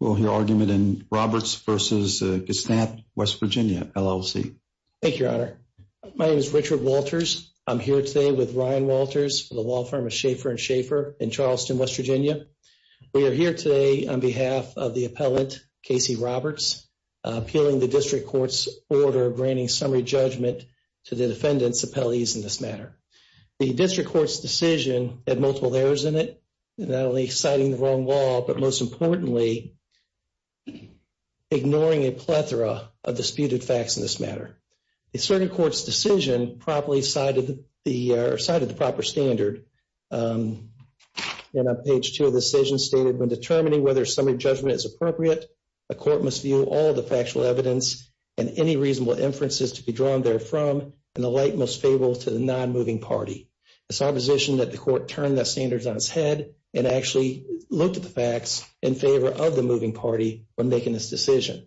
We'll hear argument in Roberts versus Gestamp West Virginia, LLC. Thank you, Your Honor. My name is Richard Walters. I'm here today with Ryan Walters for the law firm of Schaefer & Schaefer in Charleston, West Virginia. We are here today on behalf of the appellant, Kasey Roberts, appealing the district court's order granting summary judgment to the defendant's appellees in this matter. The district court's decision multiple errors in it, not only citing the wrong law, but most importantly, ignoring a plethora of disputed facts in this matter. The circuit court's decision properly cited the proper standard. And on page two of the decision stated, when determining whether summary judgment is appropriate, a court must view all the factual evidence and any reasonable inferences to be drawn therefrom in the light most favorable to the non-moving party. It's our position that the court turn the standards on its head and actually look at the facts in favor of the moving party when making this decision.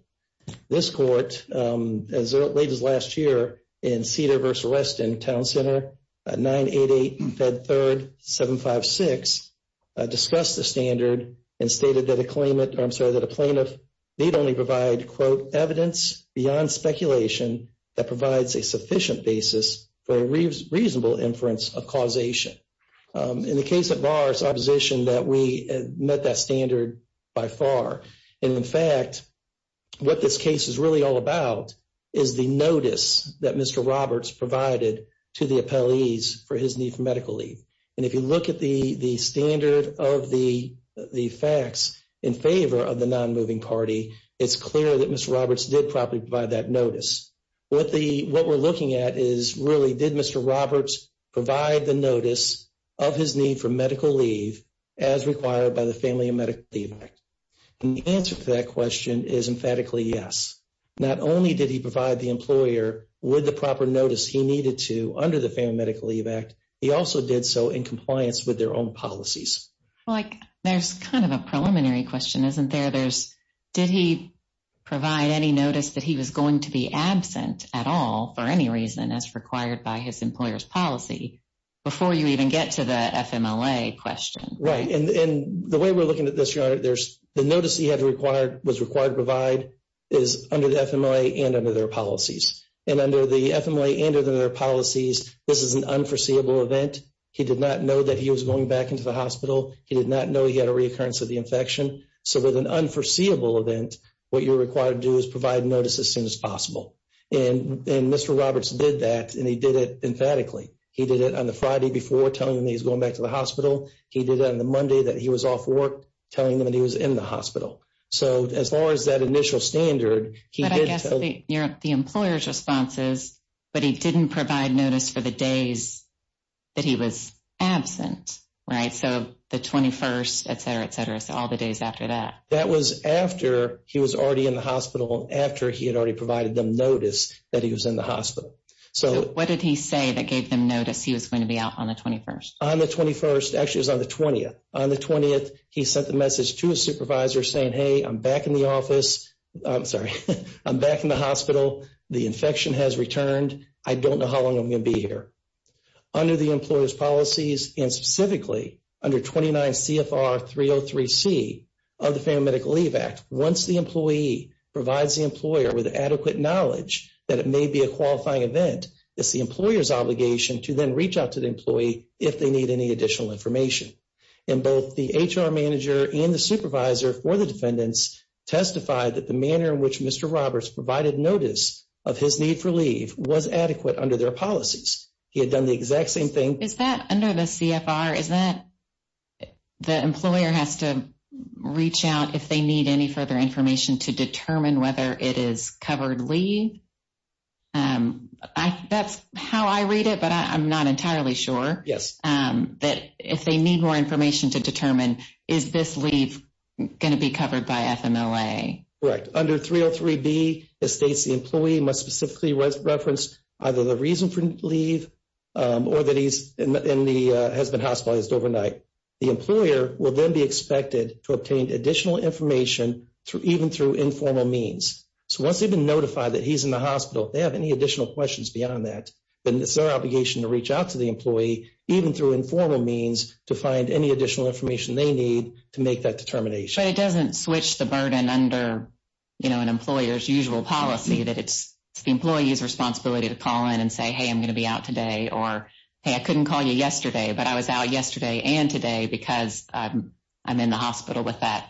This court, as late as last year, in Cedar versus Reston, Town Center, 988-Fed3-756, discussed the standard and stated that a plaintiff need only provide, quote, beyond speculation that provides a sufficient basis for a reasonable inference of causation. In the case of ours, our position that we met that standard by far. And in fact, what this case is really all about is the notice that Mr. Roberts provided to the appellees for his need for medical leave. And if you look at the standard of the facts in favor of the non-moving party, it's clear that Mr. Roberts did properly provide that notice. What we're looking at is, really, did Mr. Roberts provide the notice of his need for medical leave as required by the Family and Medical Leave Act? And the answer to that question is emphatically yes. Not only did he provide the employer with the proper notice he needed to under the Family and Medical Leave Act, he also did so in compliance with their own policies. There's kind of a preliminary question, isn't there? Did he provide any notice that he was going to be absent at all for any reason as required by his employer's policy before you even get to the FMLA question? Right. And the way we're looking at this, the notice he was required to provide is under the FMLA and under their policies. And under the FMLA and under their policies, this is an unforeseeable event. He did not know he was going back into the hospital. He did not know he had a reoccurrence of the infection. So, with an unforeseeable event, what you're required to do is provide notice as soon as possible. And Mr. Roberts did that, and he did it emphatically. He did it on the Friday before, telling them he was going back to the hospital. He did it on the Monday that he was off work, telling them that he was in the hospital. So, as far as that initial standard, he did tell them. But I guess the employer's response is, but he didn't provide notice for the days that he was absent, right? So, the 21st, et cetera, et cetera. So, all the days after that. That was after he was already in the hospital, after he had already provided them notice that he was in the hospital. So, what did he say that gave them notice he was going to be out on the 21st? On the 21st. Actually, it was on the 20th. On the 20th, he sent the message to his supervisor saying, hey, I'm back in the office. I'm sorry. I'm back in the hospital. The infection has under the employer's policies and specifically under 29 CFR 303C of the Family Medical Leave Act. Once the employee provides the employer with adequate knowledge that it may be a qualifying event, it's the employer's obligation to then reach out to the employee if they need any additional information. And both the HR manager and the supervisor for the defendants testified that the manner in which Mr. Roberts provided notice of his need for leave was adequate under their policies. He had done the exact same thing. Is that under the CFR, is that the employer has to reach out if they need any further information to determine whether it is covered leave? That's how I read it, but I'm not entirely sure. Yes. That if they need more information to determine, is this leave going to be covered by FMLA? Correct. Under 303B, it states the employee must specifically reference either the reason for leave or that he's in the, has been hospitalized overnight. The employer will then be expected to obtain additional information through even through informal means. So once they've been notified that he's in the hospital, if they have any additional questions beyond that, then it's their obligation to reach out to the employee even through informal means to find any additional information they need to make that determination. But it doesn't switch the burden under, you know, an employer's policy that it's the employee's responsibility to call in and say, hey, I'm going to be out today, or, hey, I couldn't call you yesterday, but I was out yesterday and today because I'm in the hospital with that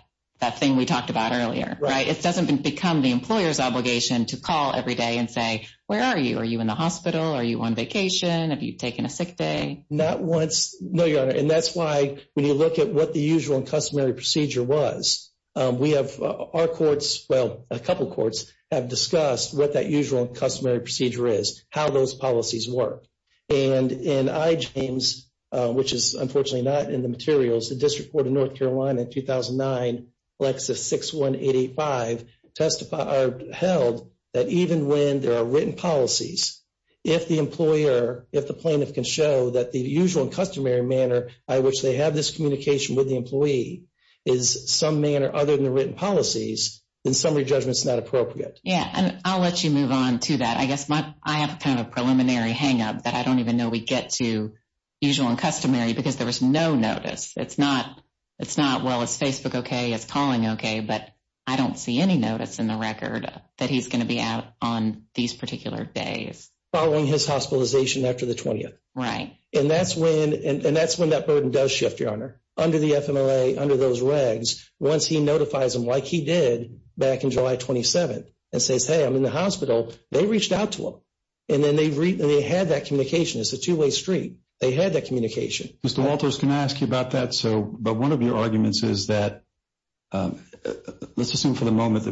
thing we talked about earlier, right? It doesn't become the employer's obligation to call every day and say, where are you? Are you in the hospital? Are you on vacation? Have you taken a sick day? Not once. No, Your Honor. And that's why when you look at what the usual customary procedure was, we have, our courts, well, a couple of courts have discussed what that usual customary procedure is, how those policies work. And in IJAMES, which is unfortunately not in the materials, the District Court of North Carolina in 2009, Lexus 6185, testified, held that even when there are written policies, if the employer, if the plaintiff can show that the usual customary manner by which they have this communication with the employee is some manner other than the written policies, then summary judgment's not appropriate. Yeah, and I'll let you move on to that. I guess my, I have kind of a preliminary hang-up that I don't even know we get to usual and customary because there was no notice. It's not, it's not, well, is Facebook okay? Is calling okay? But I don't see any notice in the record that he's going to be out on these particular days. Following his hospitalization after the 20th. Right. And that's when, and that's when that burden does shift, Your Honor. Under the FMLA, under those regs, once he notifies them, like he did back in July 27th, and says, hey, I'm in the hospital, they reached out to him. And then they had that communication. It's a two-way street. They had that communication. Mr. Walters, can I ask you about that? So, but one of your arguments is that, let's assume for the moment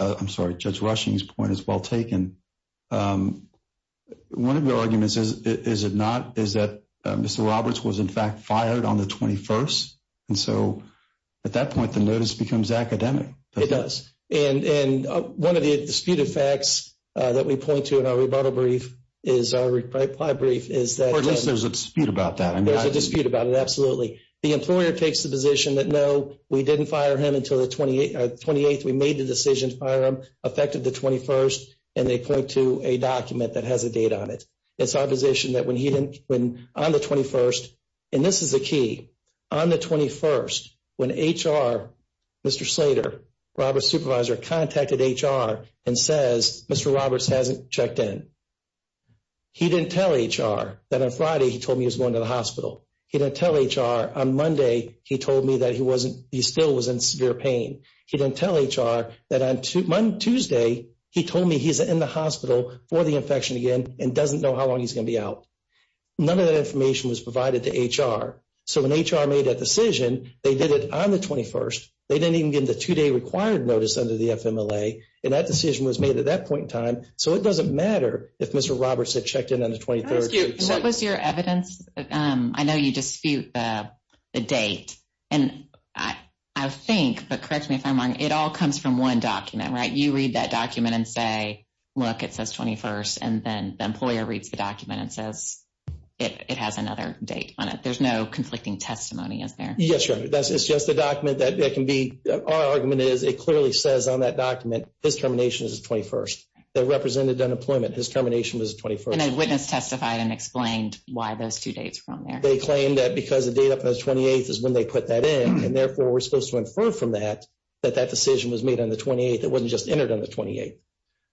I'm sorry, Judge Rushing's point is well taken. One of your arguments is it not, is that Mr. Roberts was in fact fired on the 21st. And so, at that point, the notice becomes academic. It does. And one of the disputed facts that we point to in our rebuttal brief, is our reply brief, is that. Or at least there's a dispute about that. There's a dispute about it, absolutely. The employer takes the position that no, we didn't fire him until the 28th. We made the decision to fire him, affected the 21st. And they point to a document that has a date on it. It's our position that when he didn't, when on the 21st, and this is the key, on the 21st, when HR, Mr. Slater, Robert's supervisor contacted HR and says, Mr. Roberts hasn't checked in. He didn't tell HR that on Friday, he told me he was going to the hospital. He didn't tell HR on Monday, he told me that he wasn't, he still was in severe pain. He didn't tell HR that on Tuesday, he told me he's in the hospital for the infection again, and doesn't know how long he's going to be out. None of that information was provided to HR. So, when HR made that decision, they did it on the 21st. They didn't even get the two-day required notice under the FMLA. And that decision was made at that point in time. So, it doesn't matter if Mr. Roberts had checked in on the 23rd. What was your evidence? I know you dispute the date, and I think, but correct me if I'm wrong, it all comes from one document, right? You read that document and say, look, it says 21st, and then the employer reads the document and says, it has another date on it. There's no conflicting testimony, is there? Yes, it's just a document that can be, our argument is, it clearly says on that document, his termination is the 21st. That represented unemployment. His termination was the 21st. And a witness testified and explained why those two dates were on there. They claimed that because the date on the 28th is when they put that in, and therefore, we're supposed to infer from that, that that decision was made on the 28th. It wasn't just entered on the 28th.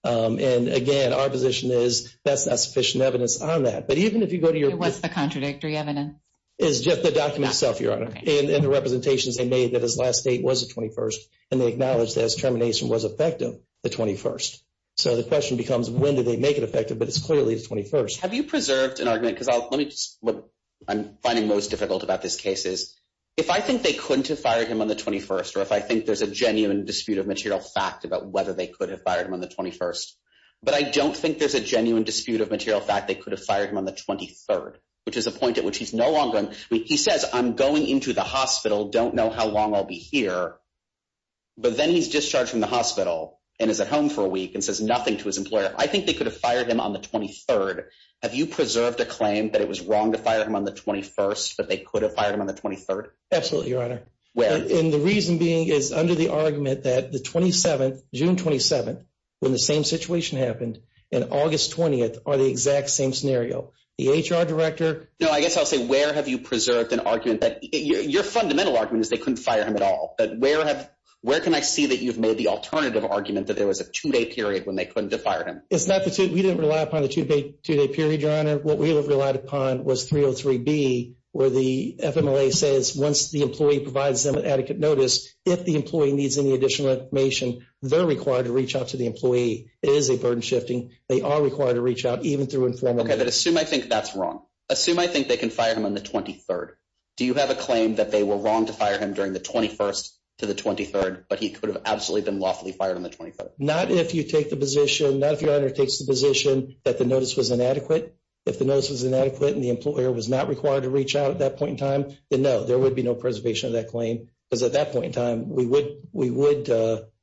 And again, our position is, that's not sufficient evidence on that. But even if you go to your- What's the contradictory evidence? It's just the document itself, Your Honor. And the representations they made that his last date was the 21st, and they acknowledged that his termination was effective, the 21st. So the question becomes, when did they make it effective? But it's clearly the 21st. Have you preserved an argument? Because let me just, what I'm finding most difficult about this case is, if I think they couldn't have fired him on the 21st, or if I think there's a genuine dispute of material fact about whether they could have fired him on the 21st, but I don't think there's a genuine dispute of material fact they could have fired him on the 23rd, which is a point at which he's no longer, he says, I'm going into the hospital, don't know how long I'll be here. But then he's discharged from the hospital, and is at home for a week, and says nothing to his employer. I think they could have fired him on the 23rd. Have you preserved a claim that it was wrong to fire him on the 21st, that they could have fired him on the 23rd? Absolutely, Your Honor. Where? And the reason being is, under the argument that the 27th, June 27th, when the same situation happened, and August 20th are the exact same scenario. The HR director- No, I guess I'll say, where have you preserved an argument that- Your fundamental argument is that where can I see that you've made the alternative argument that there was a two-day period when they couldn't have fired him? We didn't rely upon the two-day period, Your Honor. What we have relied upon was 303B, where the FMLA says once the employee provides them with adequate notice, if the employee needs any additional information, they're required to reach out to the employee. It is a burden shifting. They are required to reach out, even through informal- Okay, but assume I think that's wrong. Assume I think they can fire him on the 23rd. Do you have a claim that they were wrong to the 21st to the 23rd, but he could have absolutely been lawfully fired on the 23rd? Not if you take the position, not if Your Honor takes the position that the notice was inadequate. If the notice was inadequate and the employer was not required to reach out at that point in time, then no, there would be no preservation of that claim, because at that point in time, we would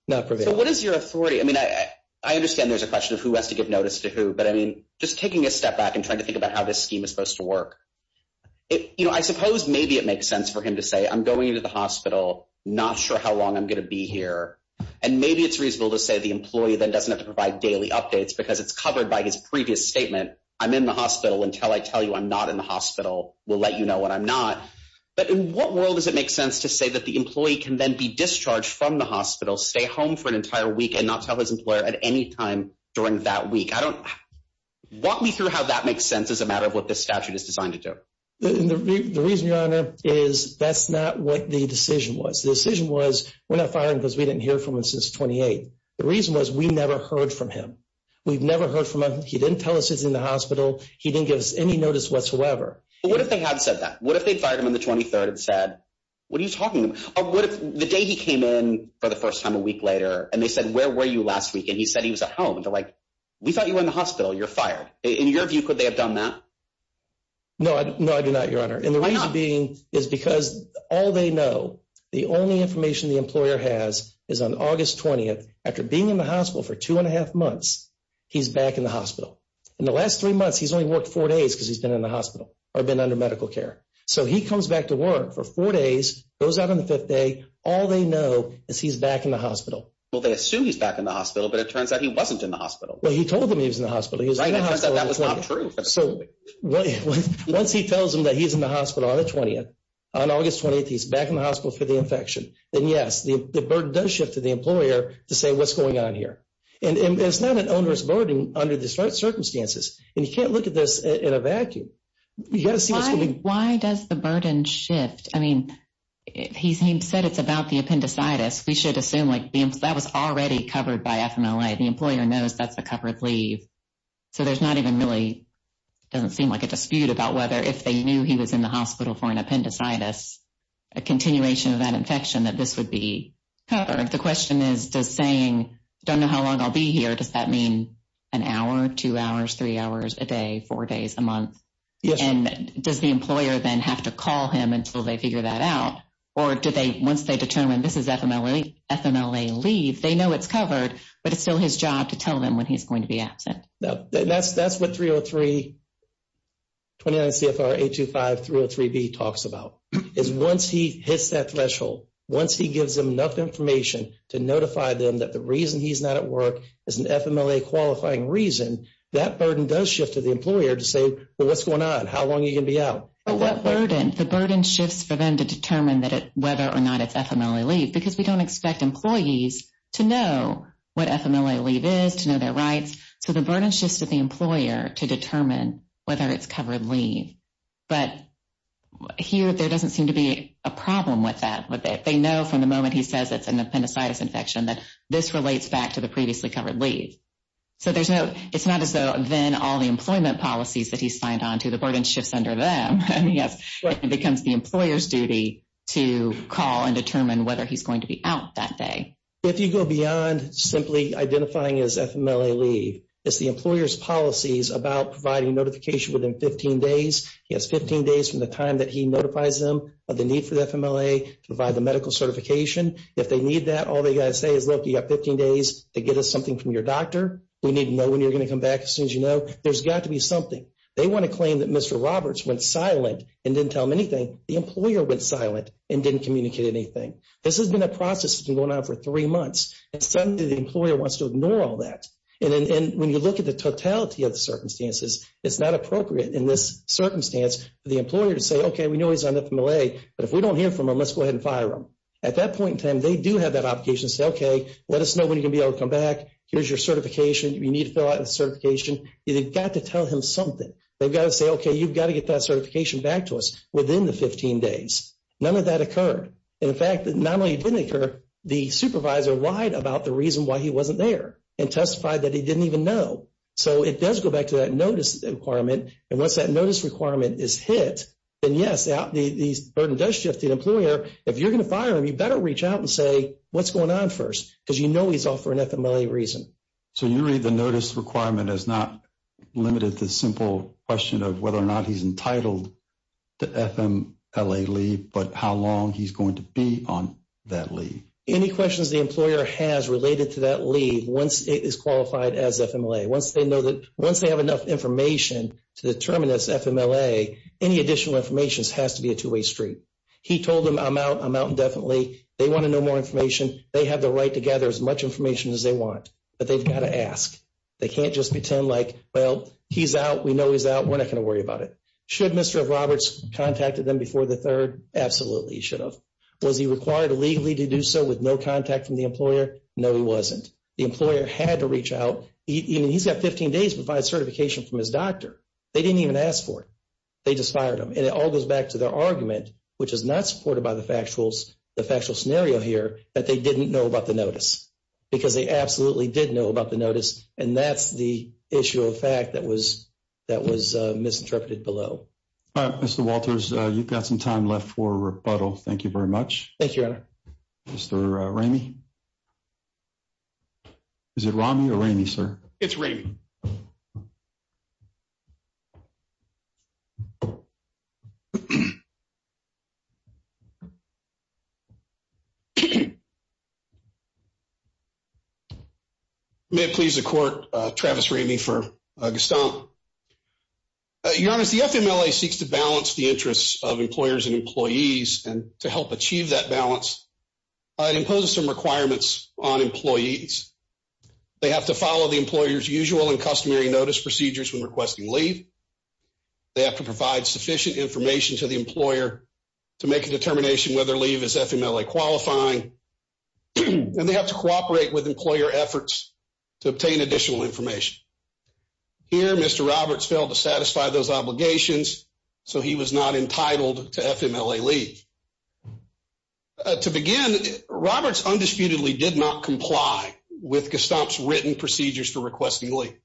not prevail. So what is your authority? I mean, I understand there's a question of who has to give notice to who, but I mean, just taking a step back and trying to think about how this scheme is supposed to work, you know, I suppose maybe it makes sense for him to say, I'm going into the hospital, not sure how long I'm going to be here. And maybe it's reasonable to say the employee then doesn't have to provide daily updates because it's covered by his previous statement. I'm in the hospital until I tell you I'm not in the hospital. We'll let you know when I'm not. But in what world does it make sense to say that the employee can then be discharged from the hospital, stay home for an entire week and not tell his employer at any time during that week? Walk me through how that makes sense as a matter of what this statute is designed to do. The reason, Your Honor, is that's not what the decision was. The decision was we're not firing because we didn't hear from him since 28. The reason was we never heard from him. We've never heard from him. He didn't tell us he's in the hospital. He didn't give us any notice whatsoever. What if they had said that? What if they fired him on the 23rd and said, what are you talking about? The day he came in for the first time a week later and they said, where were you last week? And he said he was at home. And in your view, could they have done that? No, no, I do not, Your Honor. And the reason being is because all they know, the only information the employer has is on August 20th. After being in the hospital for two and a half months, he's back in the hospital. In the last three months, he's only worked four days because he's been in the hospital or been under medical care. So he comes back to work for four days, goes out on the fifth day. All they know is he's back in the hospital. Well, they assume he's back in the hospital, but it turns out he wasn't in the hospital. That was not true. Absolutely. Once he tells them that he's in the hospital on the 20th, on August 20th, he's back in the hospital for the infection, then yes, the burden does shift to the employer to say what's going on here. And it's not an onerous burden under the circumstances. And you can't look at this in a vacuum. Why does the burden shift? I mean, he said it's about the appendicitis. We should assume that was already covered by FMLA. The employer knows that's a covered leave. So there's not even really, doesn't seem like a dispute about whether if they knew he was in the hospital for an appendicitis, a continuation of that infection, that this would be covered. The question is, does saying, don't know how long I'll be here, does that mean an hour, two hours, three hours a day, four days a month? And does the employer then have to call him until they figure that out? Or once they determine this is FMLA leave, they know it's going to be absent. That's what 303, 29 CFR 825-303b talks about, is once he hits that threshold, once he gives them enough information to notify them that the reason he's not at work is an FMLA qualifying reason, that burden does shift to the employer to say, well, what's going on? How long are you going to be out? The burden shifts for them to determine whether or not it's FMLA leave, because we don't expect employees to know what FMLA leave is, to know their rights. So the burden shifts to the employer to determine whether it's covered leave. But here, there doesn't seem to be a problem with that. They know from the moment he says it's an appendicitis infection that this relates back to the previously covered leave. So there's no, it's not as though then all the employment policies that he's signed on to, the burden shifts under them. And yes, it becomes the employer's duty to call and determine whether he's going to be out that day. If you go beyond simply identifying as FMLA leave, it's the employer's policies about providing notification within 15 days. He has 15 days from the time that he notifies them of the need for the FMLA to provide the medical certification. If they need that, all they got to say is, look, you got 15 days to get us something from your doctor. We need to know when you're going to come back as soon as you know. There's got to be something. They want to claim that Mr. Roberts went silent and didn't tell him anything. The employer went silent and didn't communicate anything. This has been a process that's been going on for three months. And suddenly the employer wants to ignore all that. And when you look at the totality of the circumstances, it's not appropriate in this circumstance for the employer to say, okay, we know he's on FMLA, but if we don't hear from him, let's go ahead and fire him. At that point in time, they do have that obligation to say, okay, let us know when you're going to be able to come back. Here's your certification. You need to fill out the certification. You've got to tell him something. They've got to say, okay, you've got to get that certification back to us within the 15 days. None of that occurred. And the fact that not only didn't occur, the supervisor lied about the reason why he wasn't there and testified that he didn't even know. So it does go back to that notice requirement. And once that notice requirement is hit, then yes, the burden does shift to the employer. If you're going to fire him, you better reach out and say, what's going on first? Because you know he's off for an FMLA reason. So you read the notice requirement as not limited to the simple question of whether or not he's entitled to FMLA leave, but how long he's going to be on that leave? Any questions the employer has related to that leave, once it is qualified as FMLA, once they know that, once they have enough information to determine it's FMLA, any additional information has to be a two-way street. He told them, I'm out. I'm out indefinitely. They want to know more information. They have the right to gather as much information as they want. They've got to ask. They can't just pretend like, well, he's out, we know he's out, we're not going to worry about it. Should Mr. Roberts have contacted them before the third? Absolutely, he should have. Was he required illegally to do so with no contact from the employer? No, he wasn't. The employer had to reach out. He's got 15 days to provide certification from his doctor. They didn't even ask for it. They just fired him. And it all goes back to their argument, which is not supported by the factual scenario here, that they didn't know the notice. Because they absolutely did know about the notice, and that's the issue of fact that was misinterpreted below. All right, Mr. Walters, you've got some time left for rebuttal. Thank you very much. Thank you, Your Honor. Mr. Ramey? Is it Ramey or Ramey, sir? It's Ramey. May it please the Court, Travis Ramey for Gaston. Your Honor, the FMLA seeks to balance the interests of employers and employees, and to help achieve that balance, it imposes some requirements on employers' usual and customary notice procedures when requesting leave. They have to provide sufficient information to the employer to make a determination whether leave is FMLA qualifying, and they have to cooperate with employer efforts to obtain additional information. Here, Mr. Roberts failed to satisfy those obligations, so he was not entitled to FMLA leave. To begin, Roberts undisputedly did not comply with Gaston's written procedures for requesting leave.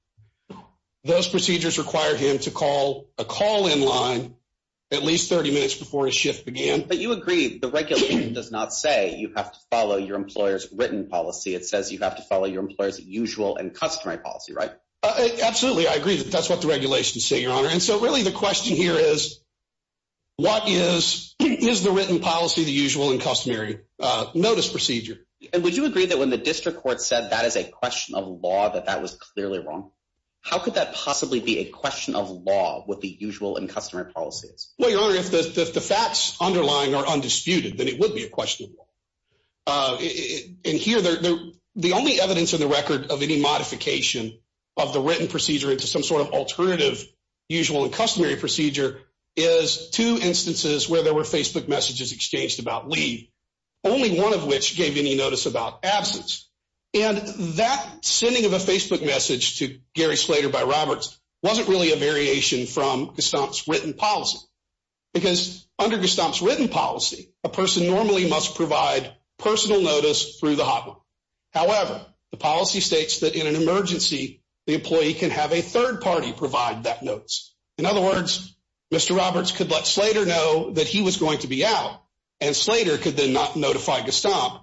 Those procedures required him to call a call-in line at least 30 minutes before his shift began. But you agree the regulation does not say you have to follow your employer's written policy. It says you have to follow your employer's usual and customary policy, right? Absolutely. I agree that that's what the regulations say, Your Honor. And so really the question here is, what is the written policy, the usual and customary notice procedure? And would you agree that when the district court said that is a question of law, that that was clearly wrong? How could that possibly be a question of law with the usual and customary policies? Well, Your Honor, if the facts underlying are undisputed, then it would be a question of law. In here, the only evidence in the record of any modification of the written procedure into some alternative usual and customary procedure is two instances where there were Facebook messages exchanged about leave, only one of which gave any notice about absence. And that sending of a Facebook message to Gary Slater by Roberts wasn't really a variation from Gaston's written policy. Because under Gaston's written policy, a person normally must provide personal notice through the hotline. However, the policy states that in an emergency, the employee can have a third party provide that notice. In other words, Mr. Roberts could let Slater know that he was going to be out, and Slater could then not notify Gaston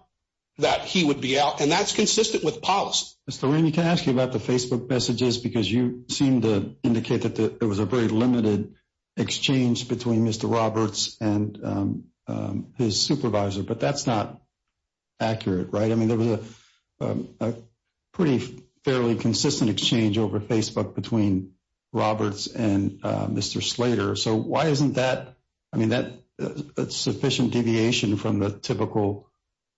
that he would be out. And that's consistent with policy. Mr. Reamy, can I ask you about the Facebook messages? Because you seem to indicate that there was a very limited exchange between Mr. Roberts and his supervisor. But that's not Roberts and Mr. Slater. So why isn't that a sufficient deviation from the typical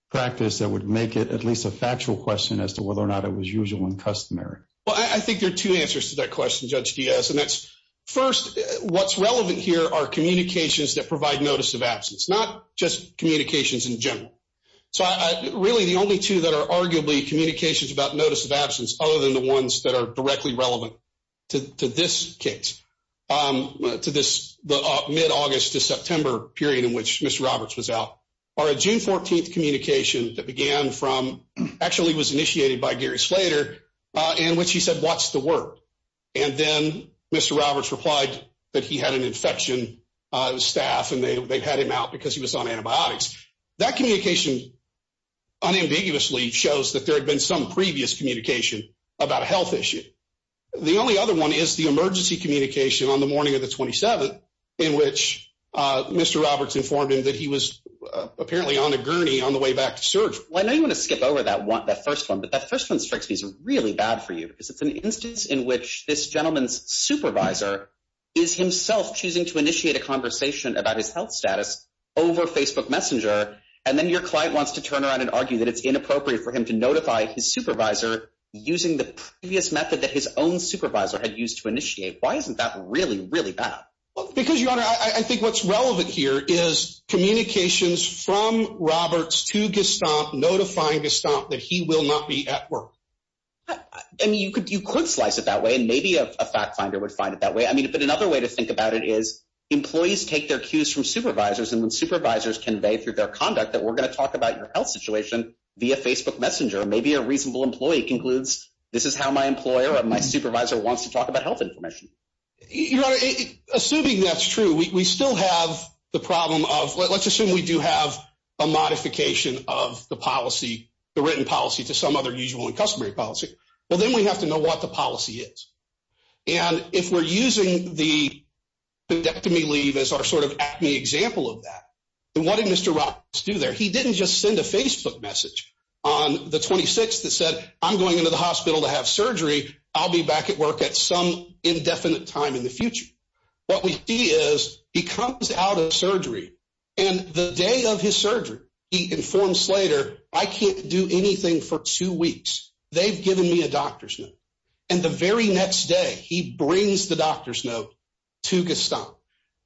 practice that would make it at least a factual question as to whether or not it was usual and customary? Well, I think there are two answers to that question, Judge Diaz. And that's, first, what's relevant here are communications that provide notice of absence, not just communications in general. So really, the only two that are arguably communications about notice of absence other than the ones that are directly relevant to this case, to this mid-August to September period in which Mr. Roberts was out, are a June 14th communication that began from, actually was initiated by Gary Slater, in which he said, what's the word? And then Mr. Roberts replied that he had an infection on his staff, and they had him out because he was on antibiotics. That communication unambiguously shows that there had been some previous communication about a health issue. The only other one is the emergency communication on the morning of the 27th in which Mr. Roberts informed him that he was apparently on a gurney on the way back to surgery. Well, I know you want to skip over that first one, but that first one strikes me as really bad for you because it's an instance in which this gentleman's supervisor is himself choosing to initiate a conversation about his health status over Facebook Messenger, and then your client wants to turn around and argue that it's inappropriate for him to notify his supervisor using the previous method that his own supervisor had used to initiate. Why isn't that really, really bad? Because, Your Honor, I think what's relevant here is communications from Roberts to Gestamp notifying Gestamp that he will not be at work. I mean, you could slice it that way, and maybe a fact finder would find it that way. I mean, but another way to think about it is employees take their cues from supervisors, and when supervisors convey through their conduct that we're going to talk about your health situation via Facebook Messenger, maybe a reasonable employee concludes, this is how my employer or my supervisor wants to talk about health information. Your Honor, assuming that's true, we still have the problem of, let's assume we do have a modification of the policy, the written policy, to some other usual and customary policy, well, then we have to know what the policy is. And if we're using the appendectomy leave as our sort of acne example of that, then what did Mr. Roberts do there? He didn't just send a Facebook message on the 26th that said, I'm going into the hospital to have surgery. I'll be back at work at some indefinite time in the future. What we see is he comes out of surgery, and the day of his surgery, he hasn't given me a doctor's note. And the very next day, he brings the doctor's note to Gaston.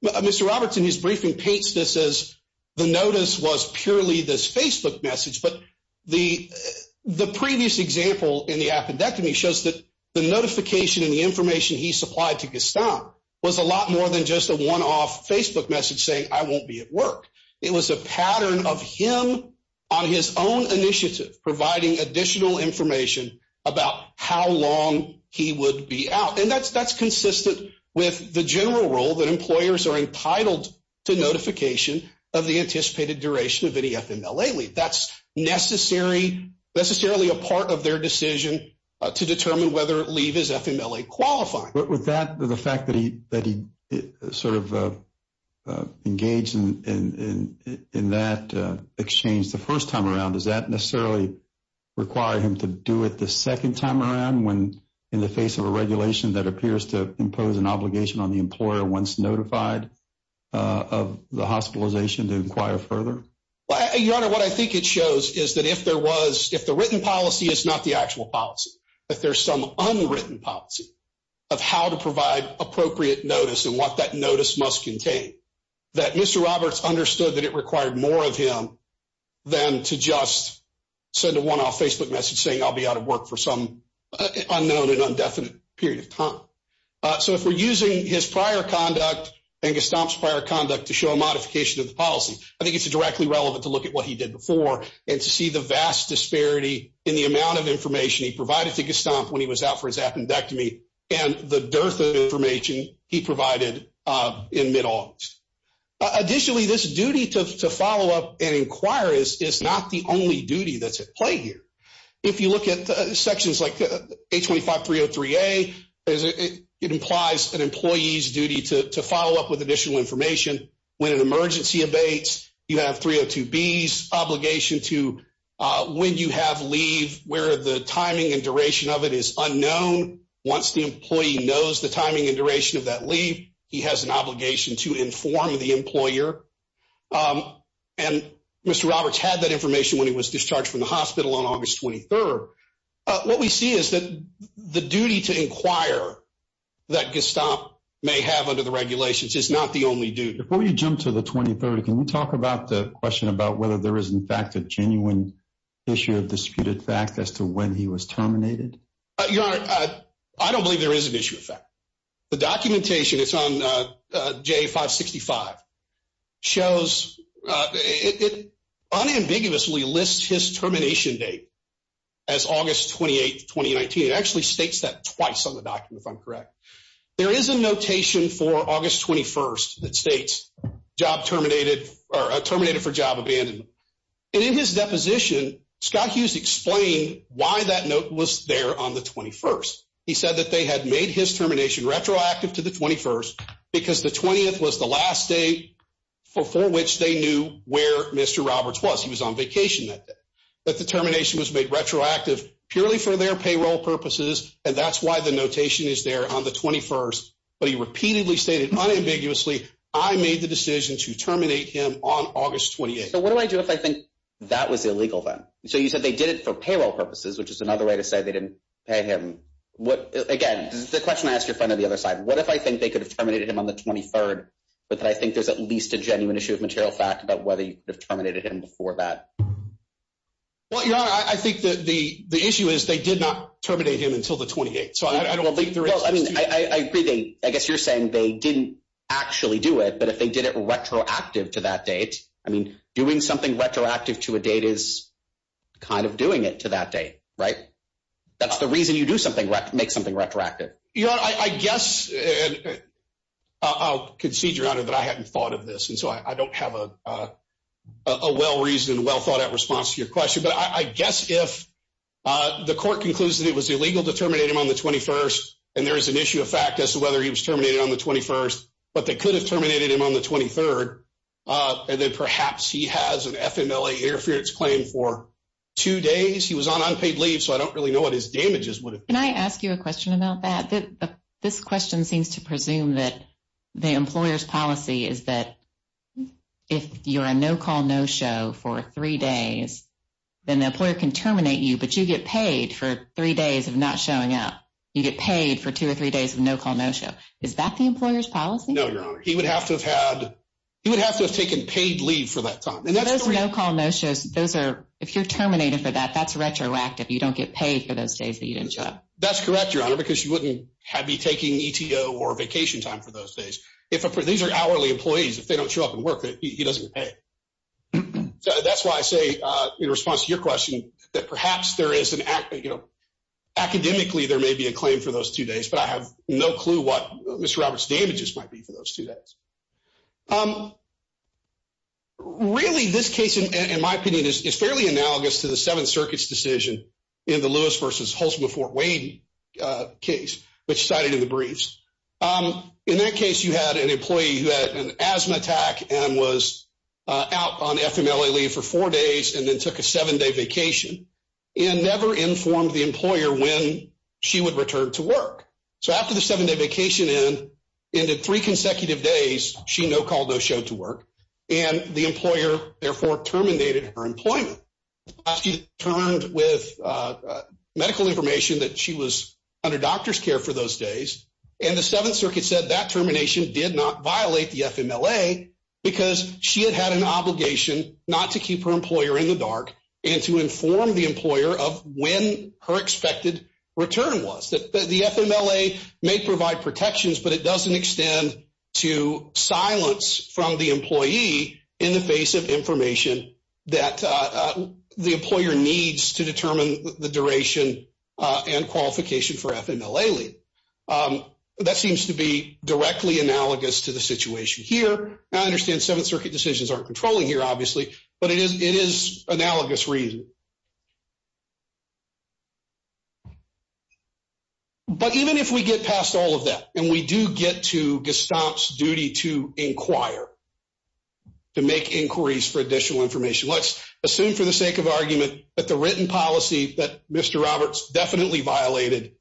Mr. Roberts, in his briefing, paints this as the notice was purely this Facebook message, but the previous example in the appendectomy shows that the notification and the information he supplied to Gaston was a lot more than just a one-off Facebook message saying, I won't be at about how long he would be out. And that's consistent with the general rule that employers are entitled to notification of the anticipated duration of any FMLA leave. That's necessary, necessarily a part of their decision to determine whether leave is FMLA qualified. With that, the fact that he sort of engaged in that exchange the first time around, does that mean he did it the second time around when, in the face of a regulation that appears to impose an obligation on the employer once notified of the hospitalization to inquire further? Your Honor, what I think it shows is that if there was, if the written policy is not the actual policy, if there's some unwritten policy of how to provide appropriate notice and what that notice must contain, that Mr. Roberts understood that it required more of him than to just send a one-off Facebook message saying, I'll be out of work for some unknown and indefinite period of time. So if we're using his prior conduct and Gaston's prior conduct to show a modification of the policy, I think it's directly relevant to look at what he did before and to see the vast disparity in the amount of information he provided to Gaston when he was out for his appendectomy and the dearth of information he provided in mid-August. Additionally, this duty to follow up and inquire is not the only duty that's at play here. If you look at sections like 825-303-A, it implies an employee's duty to follow up with additional information when an emergency abates. You have 302-B's obligation to, when you have leave, where the timing and duration of it is unknown. Once the employee knows the timing and duration of that leave, he has an obligation to inform the Mr. Roberts had that information when he was discharged from the hospital on August 23rd. What we see is that the duty to inquire that Gaston may have under the regulations is not the only duty. Before you jump to the 23rd, can you talk about the question about whether there is in fact a genuine issue of disputed fact as to when he was terminated? Your Honor, I don't believe there is an issue of fact. The documentation, it's on J-565, shows it unambiguously lists his termination date as August 28th, 2019. It actually states that twice on the document, if I'm correct. There is a notation for August 21st that states terminated for job abandonment. In his deposition, Scott Hughes explained why that note was there on the 21st. He said that they had made his termination retroactive to the 21st because the 20th was the last day before which they knew where Mr. Roberts was. He was on vacation that day. But the termination was made retroactive purely for their payroll purposes, and that's why the notation is there on the 21st. But he repeatedly stated unambiguously, I made the decision to terminate him on August 28th. So what do I do if I think that was illegal then? So you said they did it for payroll purposes, which is another way to say they didn't pay him. Again, the question I ask your friend on the other side, what if I think they could have terminated him on the 23rd, but that I think there's at least a genuine issue of material fact about whether you could have terminated him before that? Well, Your Honor, I think the issue is they did not terminate him until the 28th. So I don't think there is- Well, I mean, I agree. I guess you're saying they didn't actually do it, but if they did it retroactive to that date, I mean, doing something retroactive to a date is kind of doing it to that date, right? That's the reason you do something, make something retroactive. Your Honor, I guess- I'll concede, Your Honor, that I hadn't thought of this. And so I don't have a well-reasoned, well-thought-out response to your question. But I guess if the court concludes that it was illegal to terminate him on the 21st, and there is an issue of fact as to whether he was terminated on the 21st, but they could have FMLA interference claim for two days. He was on unpaid leave, so I don't really know what his damages would have been. Can I ask you a question about that? This question seems to presume that the employer's policy is that if you're a no-call, no-show for three days, then the employer can terminate you, but you get paid for three days of not showing up. You get paid for two or three days of no-call, no-show. Is that the employer's policy? No, Your Honor. He would have to have had- He would have to have taken paid leave for that time. Those no-call, no-shows, those are- If you're terminated for that, that's retroactive. You don't get paid for those days that you didn't show up. That's correct, Your Honor, because you wouldn't have me taking ETO or vacation time for those days. These are hourly employees. If they don't show up and work, he doesn't get paid. That's why I say, in response to your question, that perhaps there is an- Academically, there may be a claim for those two days, but I have no clue what Mr. Roberts' damages might be for those two days. Really, this case, in my opinion, is fairly analogous to the Seventh Circuit's decision in the Lewis v. Holzman v. Fort Wade case, which cited in the briefs. In that case, you had an employee who had an asthma attack and was out on FMLA leave for four days and then took a seven-day vacation and never informed the employer when she would return to work. So, after the seven-day vacation ended, in three consecutive days, she no call, no show to work, and the employer therefore terminated her employment. She returned with medical information that she was under doctor's care for those days, and the Seventh Circuit said that termination did not violate the FMLA because she had had an obligation not to keep her employer in the dark and to inform the employer of when her expected return was. The FMLA may provide protections, but it doesn't extend to silence from the employee in the face of information that the employer needs to determine the duration and qualification for FMLA leave. That seems to be directly analogous to the situation here. I understand Seventh Circuit decisions aren't controlling here, obviously, but it is analogous reason. But even if we get past all of that and we do get to Gestamp's duty to inquire, to make inquiries for additional information, let's assume for the sake of argument that the written policy that Mr. Roberts definitely violated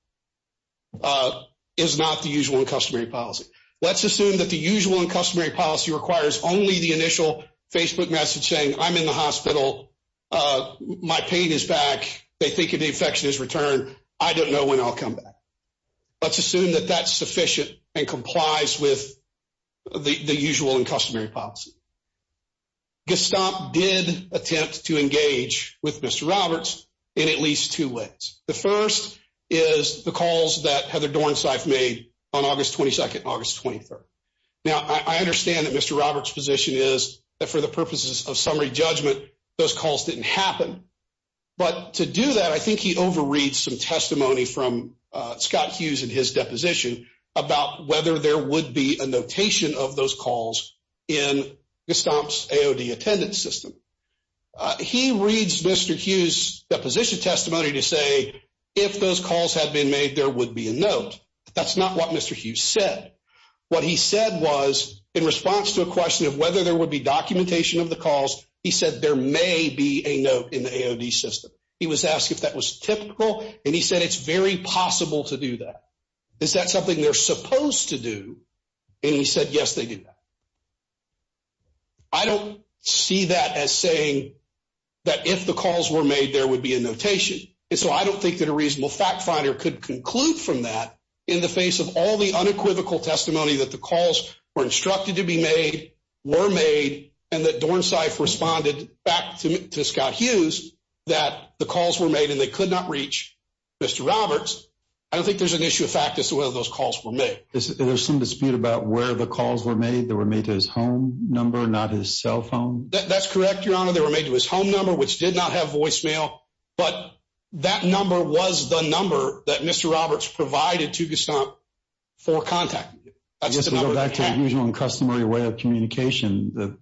is not the usual and customary policy. Let's assume that the usual and customary policy requires only the initial Facebook message saying, I'm in the hospital, my pain is back, they think an infection has returned, I don't know when I'll come back. Let's assume that that's sufficient and complies with the usual and customary policy. Gestamp did attempt to engage with Mr. Roberts in at least two ways. The first is the calls that I understand that Mr. Roberts' position is that for the purposes of summary judgment, those calls didn't happen. But to do that, I think he overreads some testimony from Scott Hughes in his deposition about whether there would be a notation of those calls in Gestamp's AOD attendance system. He reads Mr. Hughes' deposition testimony to say, if those calls had been made, there would be a note. That's not what Mr. Hughes said. What he said was, in response to a question of whether there would be documentation of the calls, he said, there may be a note in the AOD system. He was asked if that was typical, and he said, it's very possible to do that. Is that something they're supposed to do? And he said, yes, they do. I don't see that as saying that if the calls were made, there would be a notation. And so I don't think that a reasonable fact finder could conclude from that in the face of all the unequivocal testimony that the calls were instructed to be made, were made, and that Dornsife responded back to Scott Hughes that the calls were made and they could not reach Mr. Roberts. I don't think there's an issue of fact as to whether those calls were made. There's some dispute about where the calls were made. They were made to his home number, not his cell phone. That's correct, Your Honor. They were made to his home number, which did not have voicemail. But that number was the number that Mr. Roberts provided to Scott for contacting him. Just to go back to the usual and customary way of communication,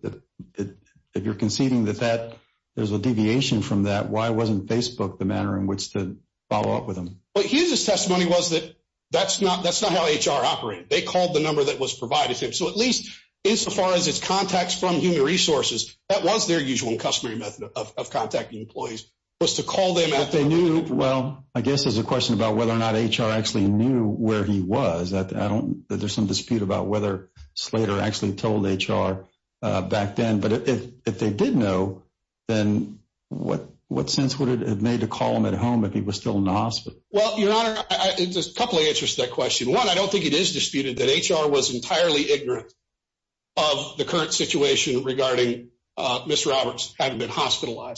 if you're conceding that there's a deviation from that, why wasn't Facebook the manner in which to follow up with him? What Hughes' testimony was that that's not how HR operated. They called the number that was provided to him. So at least, insofar as it's contacts from human resources, that was their usual and customary method of contacting employees, was to call them at the home. Well, I guess there's a question about whether or not HR actually knew where he was. There's some dispute about whether Slater actually told HR back then. But if they did know, then what sense would it have made to call him at home if he was still in the hospital? Well, Your Honor, there's a couple of answers to that question. One, I don't think it is disputed that HR was entirely ignorant of the current situation regarding Mr. Roberts having been whether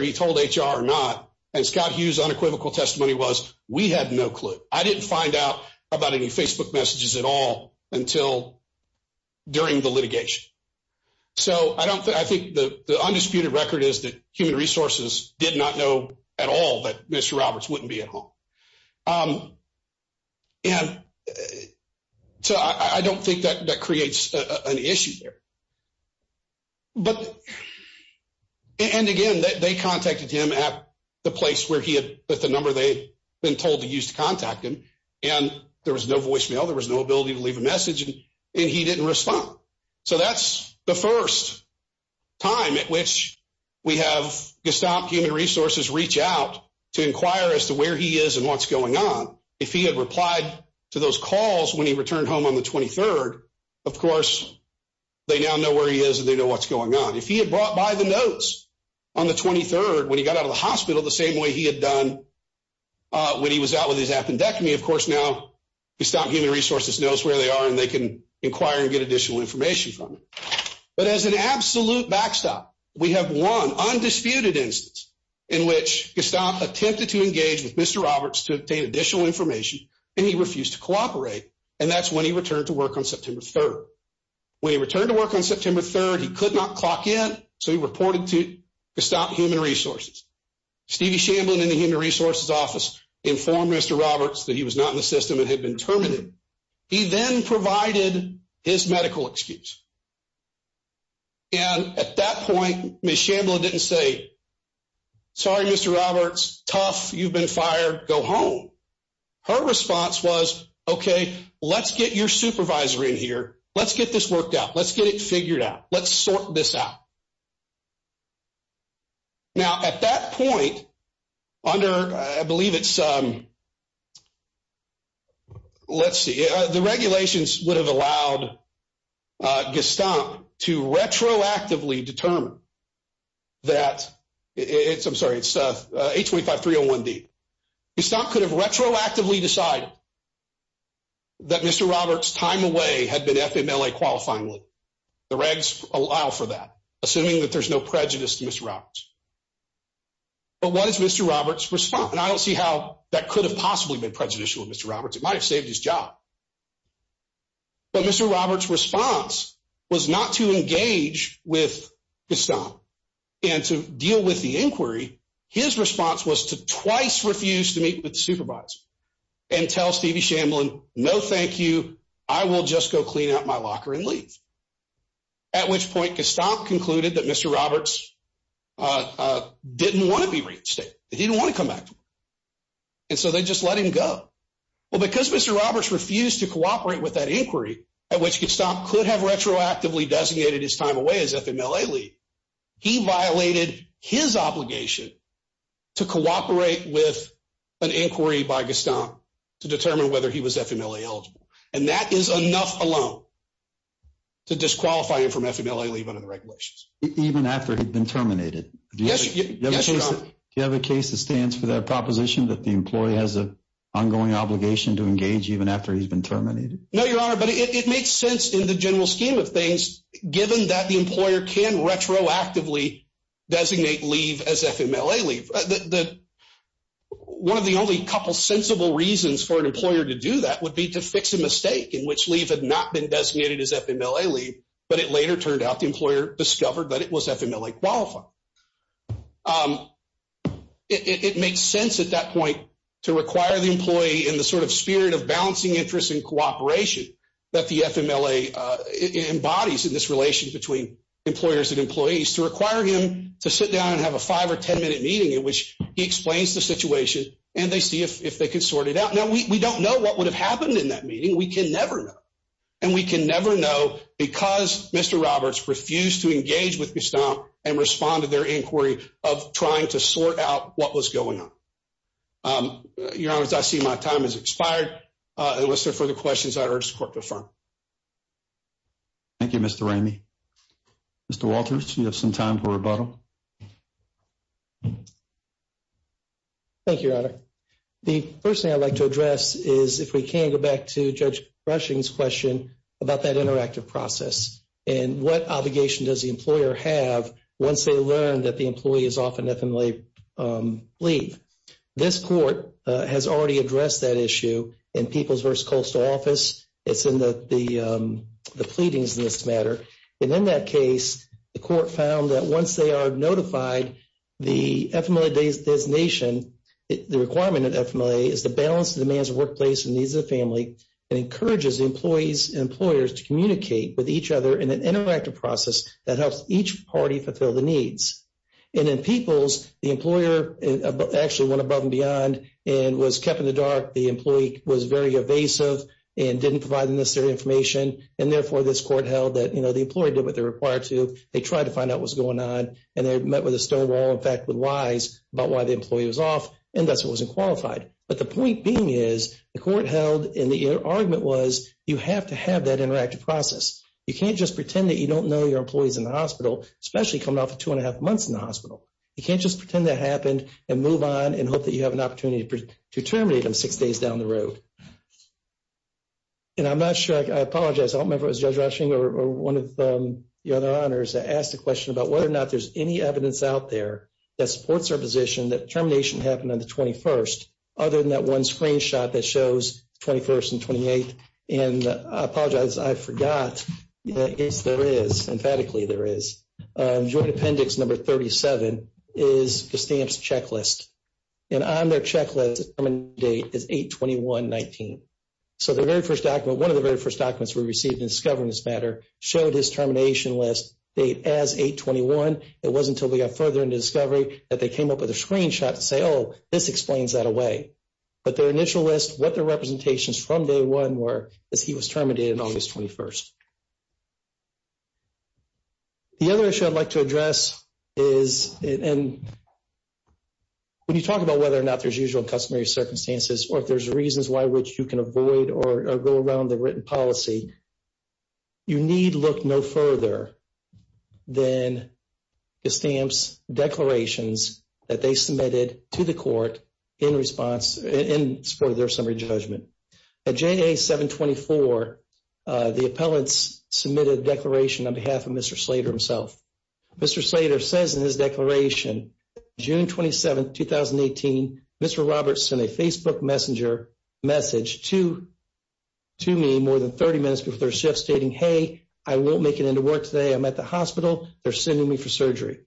he told HR or not. And Scott Hughes' unequivocal testimony was, we had no clue. I didn't find out about any Facebook messages at all until during the litigation. So I think the undisputed record is that human resources did not know at all that Mr. Roberts wouldn't be at home. And again, they contacted him at the place where he had put the number they'd been told to use to contact him. And there was no voicemail. There was no ability to leave a message. And he didn't respond. So that's the first time at which we have Gestalt Human Resources reach out to inquire as to where he is and what's going on. If he had replied to those calls when he returned home on the 23rd, of course, they now know where he is and they know what's going on. If he had brought by the notes on the 23rd when he got out of the hospital the same way he had done when he was out with his appendectomy, of course, now Gestalt Human Resources knows where they are and they can inquire and get additional information from him. But as an absolute backstop, we have one undisputed instance in which Gestalt attempted to engage with Mr. Roberts to obtain additional information and he refused to cooperate. And that's when he returned to work on September 3rd. When he returned to work on September 3rd, he could not clock in, so he reported to Gestalt Human Resources. Stevie Shamblin in the Human Resources office informed Mr. Roberts that he was not in the system and had been terminated. He then provided his medical excuse. And at that response, Gestalt Human Resources said, okay, let's get your supervisor in here. Let's get this worked out. Let's get it figured out. Let's sort this out. Now, at that point, under, I believe it's, let's see, the regulations would have allowed Gestalt to retroactively determine that it's, I'm sorry, it's 825-301-D. Gestalt could have retroactively decided that Mr. Roberts' time away had been FMLA qualifyingly. The regs allow for that, assuming that there's no prejudice to Mr. Roberts. But what is Mr. Roberts' response? And I don't see how that could have possibly been prejudicial to Mr. Roberts. It might have saved his job. But Mr. Roberts' response was not to engage with Gestalt and to deal with the inquiry. His response was to twice refuse to meet with the supervisor and tell Stevie Shamblin, no, thank you. I will just go clean out my locker and leave. At which point, Gestalt concluded that Mr. Roberts didn't want to be reinstated. He didn't want to come back. And so they just let him go. Well, because Mr. Roberts refused to cooperate with that inquiry at which Gestalt could have retroactively designated his time away as FMLA-eligible, he violated his obligation to cooperate with an inquiry by Gestalt to determine whether he was FMLA-eligible. And that is enough alone to disqualify him from FMLA leave under the regulations. Even after he'd been terminated? Yes. Do you have a case that stands for that proposition that the employee has an ongoing obligation to engage even after he's been terminated? No, Your Honor, but it makes sense in the general scheme of things, given that the employer can retroactively designate leave as FMLA leave. One of the only couple sensible reasons for an employer to do that would be to fix a mistake in which leave had not been designated as FMLA leave, but it later turned out the employer discovered that it was FMLA-qualified. It makes sense at that point to require the employee in spirit of balancing interests and cooperation that the FMLA embodies in this relation between employers and employees to require him to sit down and have a five or ten minute meeting in which he explains the situation and they see if they can sort it out. Now, we don't know what would have happened in that meeting. We can never know. And we can never know because Mr. Roberts refused to engage with Gestalt and respond to their inquiry of trying to sort out what was going on. Um, Your Honor, I see my time has expired. Uh, unless there are further questions, I urge the court to affirm. Thank you, Mr. Ramey. Mr. Walters, you have some time for rebuttal. Thank you, Your Honor. The first thing I'd like to address is if we can go back to Judge Brushing's question about that interactive process and what obligation does the employer have once they learn that the employee is off on FMLA leave. This court has already addressed that issue in People vs. Coastal Office. It's in the pleadings in this matter. And in that case, the court found that once they are notified, the FMLA designation, the requirement of FMLA is to balance the demands of workplace and needs of the family and encourages employees and employers to communicate with each other in an interactive process that helps each party fulfill the needs. And in People's, the employer actually went above and beyond and was kept in the dark. The employee was very evasive and didn't provide the necessary information. And therefore, this court held that, you know, the employee did what they're required to. They tried to find out what's going on. And they met with a stonewall, in fact, with lies about why the employee was off. And that's why he wasn't qualified. But the point being is the court held and the argument was you have to have that interactive process. You can't just pretend that you don't know your employees in the hospital, especially coming off of two and a half months in the hospital. You can't just pretend that happened and move on and hope that you have an opportunity to terminate them six days down the road. And I'm not sure, I apologize. I don't remember if it was Judge Rushing or one of the other honors that asked a question about whether or not there's any evidence out there that supports our position that termination happened on the 21st, other than that one screenshot that shows 21st and 28th. And I apologize, I forgot. Yes, there is. Emphatically, there is. Joint Appendix Number 37 is the stamps checklist. And on their checklist, the date is 8-21-19. So the very first document, one of the very first documents we received in discovering this matter showed his termination list date as 8-21. It wasn't until we got further into discovery that they came up with a screenshot to say, oh, this explains that away. But their initial list, what their representations from day one were is he was terminated. The other issue I'd like to address is, and when you talk about whether or not there's usual customary circumstances or if there's reasons why which you can avoid or go around the written policy, you need look no further than the stamps declarations that they submitted to the declaration on behalf of Mr. Slater himself. Mr. Slater says in his declaration, June 27th, 2018, Mr. Roberts sent a Facebook message to me more than 30 minutes before their shift stating, hey, I won't make it into work today. I'm at the hospital. They're sending me for surgery.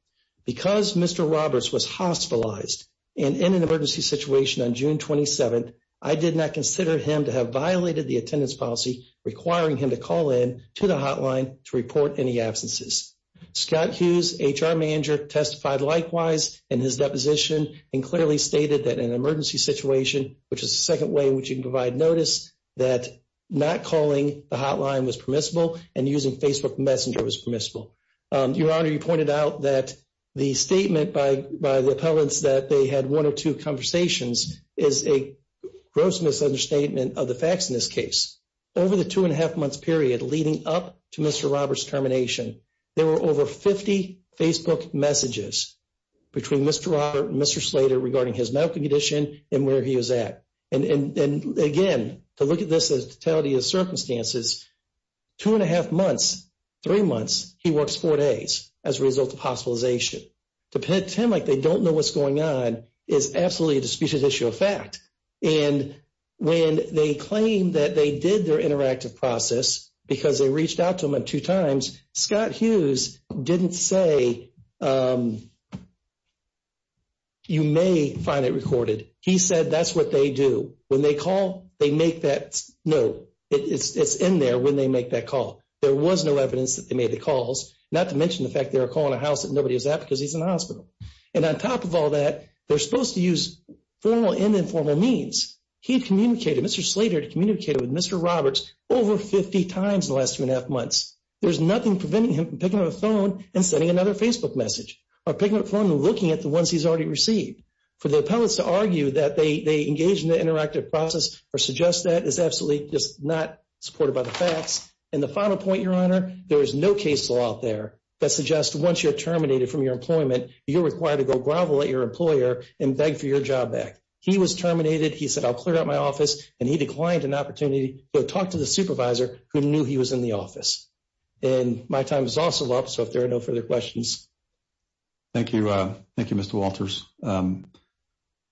Because Mr. Roberts was hospitalized and in an emergency situation on June 27th, I did not consider him to have violated the attendance policy requiring him to call in the hotline to report any absences. Scott Hughes, HR manager, testified likewise in his deposition and clearly stated that in an emergency situation, which is the second way in which you can provide notice, that not calling the hotline was permissible and using Facebook Messenger was permissible. Your Honor, you pointed out that the statement by the appellants that they had one or two conversations is a gross misunderstatement of the facts in this case. Over the two and a half months up to Mr. Roberts' termination, there were over 50 Facebook messages between Mr. Roberts and Mr. Slater regarding his medical condition and where he was at. And again, to look at this as totality of circumstances, two and a half months, three months, he works four days as a result of hospitalization. To pretend like they don't know what's going on is absolutely a disputed issue of fact. And when they claim that they did their interactive process because they reached out to him two times, Scott Hughes didn't say, you may find it recorded. He said that's what they do. When they call, they make that note. It's in there when they make that call. There was no evidence that they made the calls, not to mention the fact they were calling a house that nobody was at because he's in the hospital. And on top of all that, they're supposed to use formal and informal means. He communicated, Mr. Slater communicated with Mr. Roberts over 50 times in the last two and a half months. There's nothing preventing him from picking up the phone and sending another Facebook message or picking up the phone and looking at the ones he's already received. For the appellants to argue that they engaged in the interactive process or suggest that is absolutely just not supported by the facts. And the final point, Your Honor, there is no case law out there that suggests once you're you're required to go grovel at your employer and beg for your job back. He was terminated. He said, I'll clear out my office. And he declined an opportunity to talk to the supervisor who knew he was in the office. And my time is also up. So if there are no further questions. Thank you. Thank you, Mr. Walters. The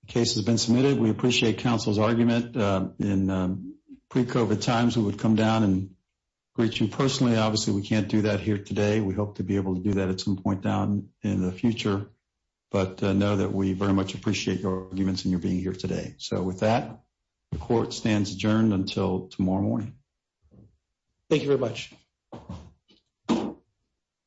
case has been submitted. We appreciate counsel's argument in pre-COVID times, we would come down and greet you personally. Obviously, we can't do that here in the future. But know that we very much appreciate your arguments and your being here today. So with that, the court stands adjourned until tomorrow morning. Thank you very much.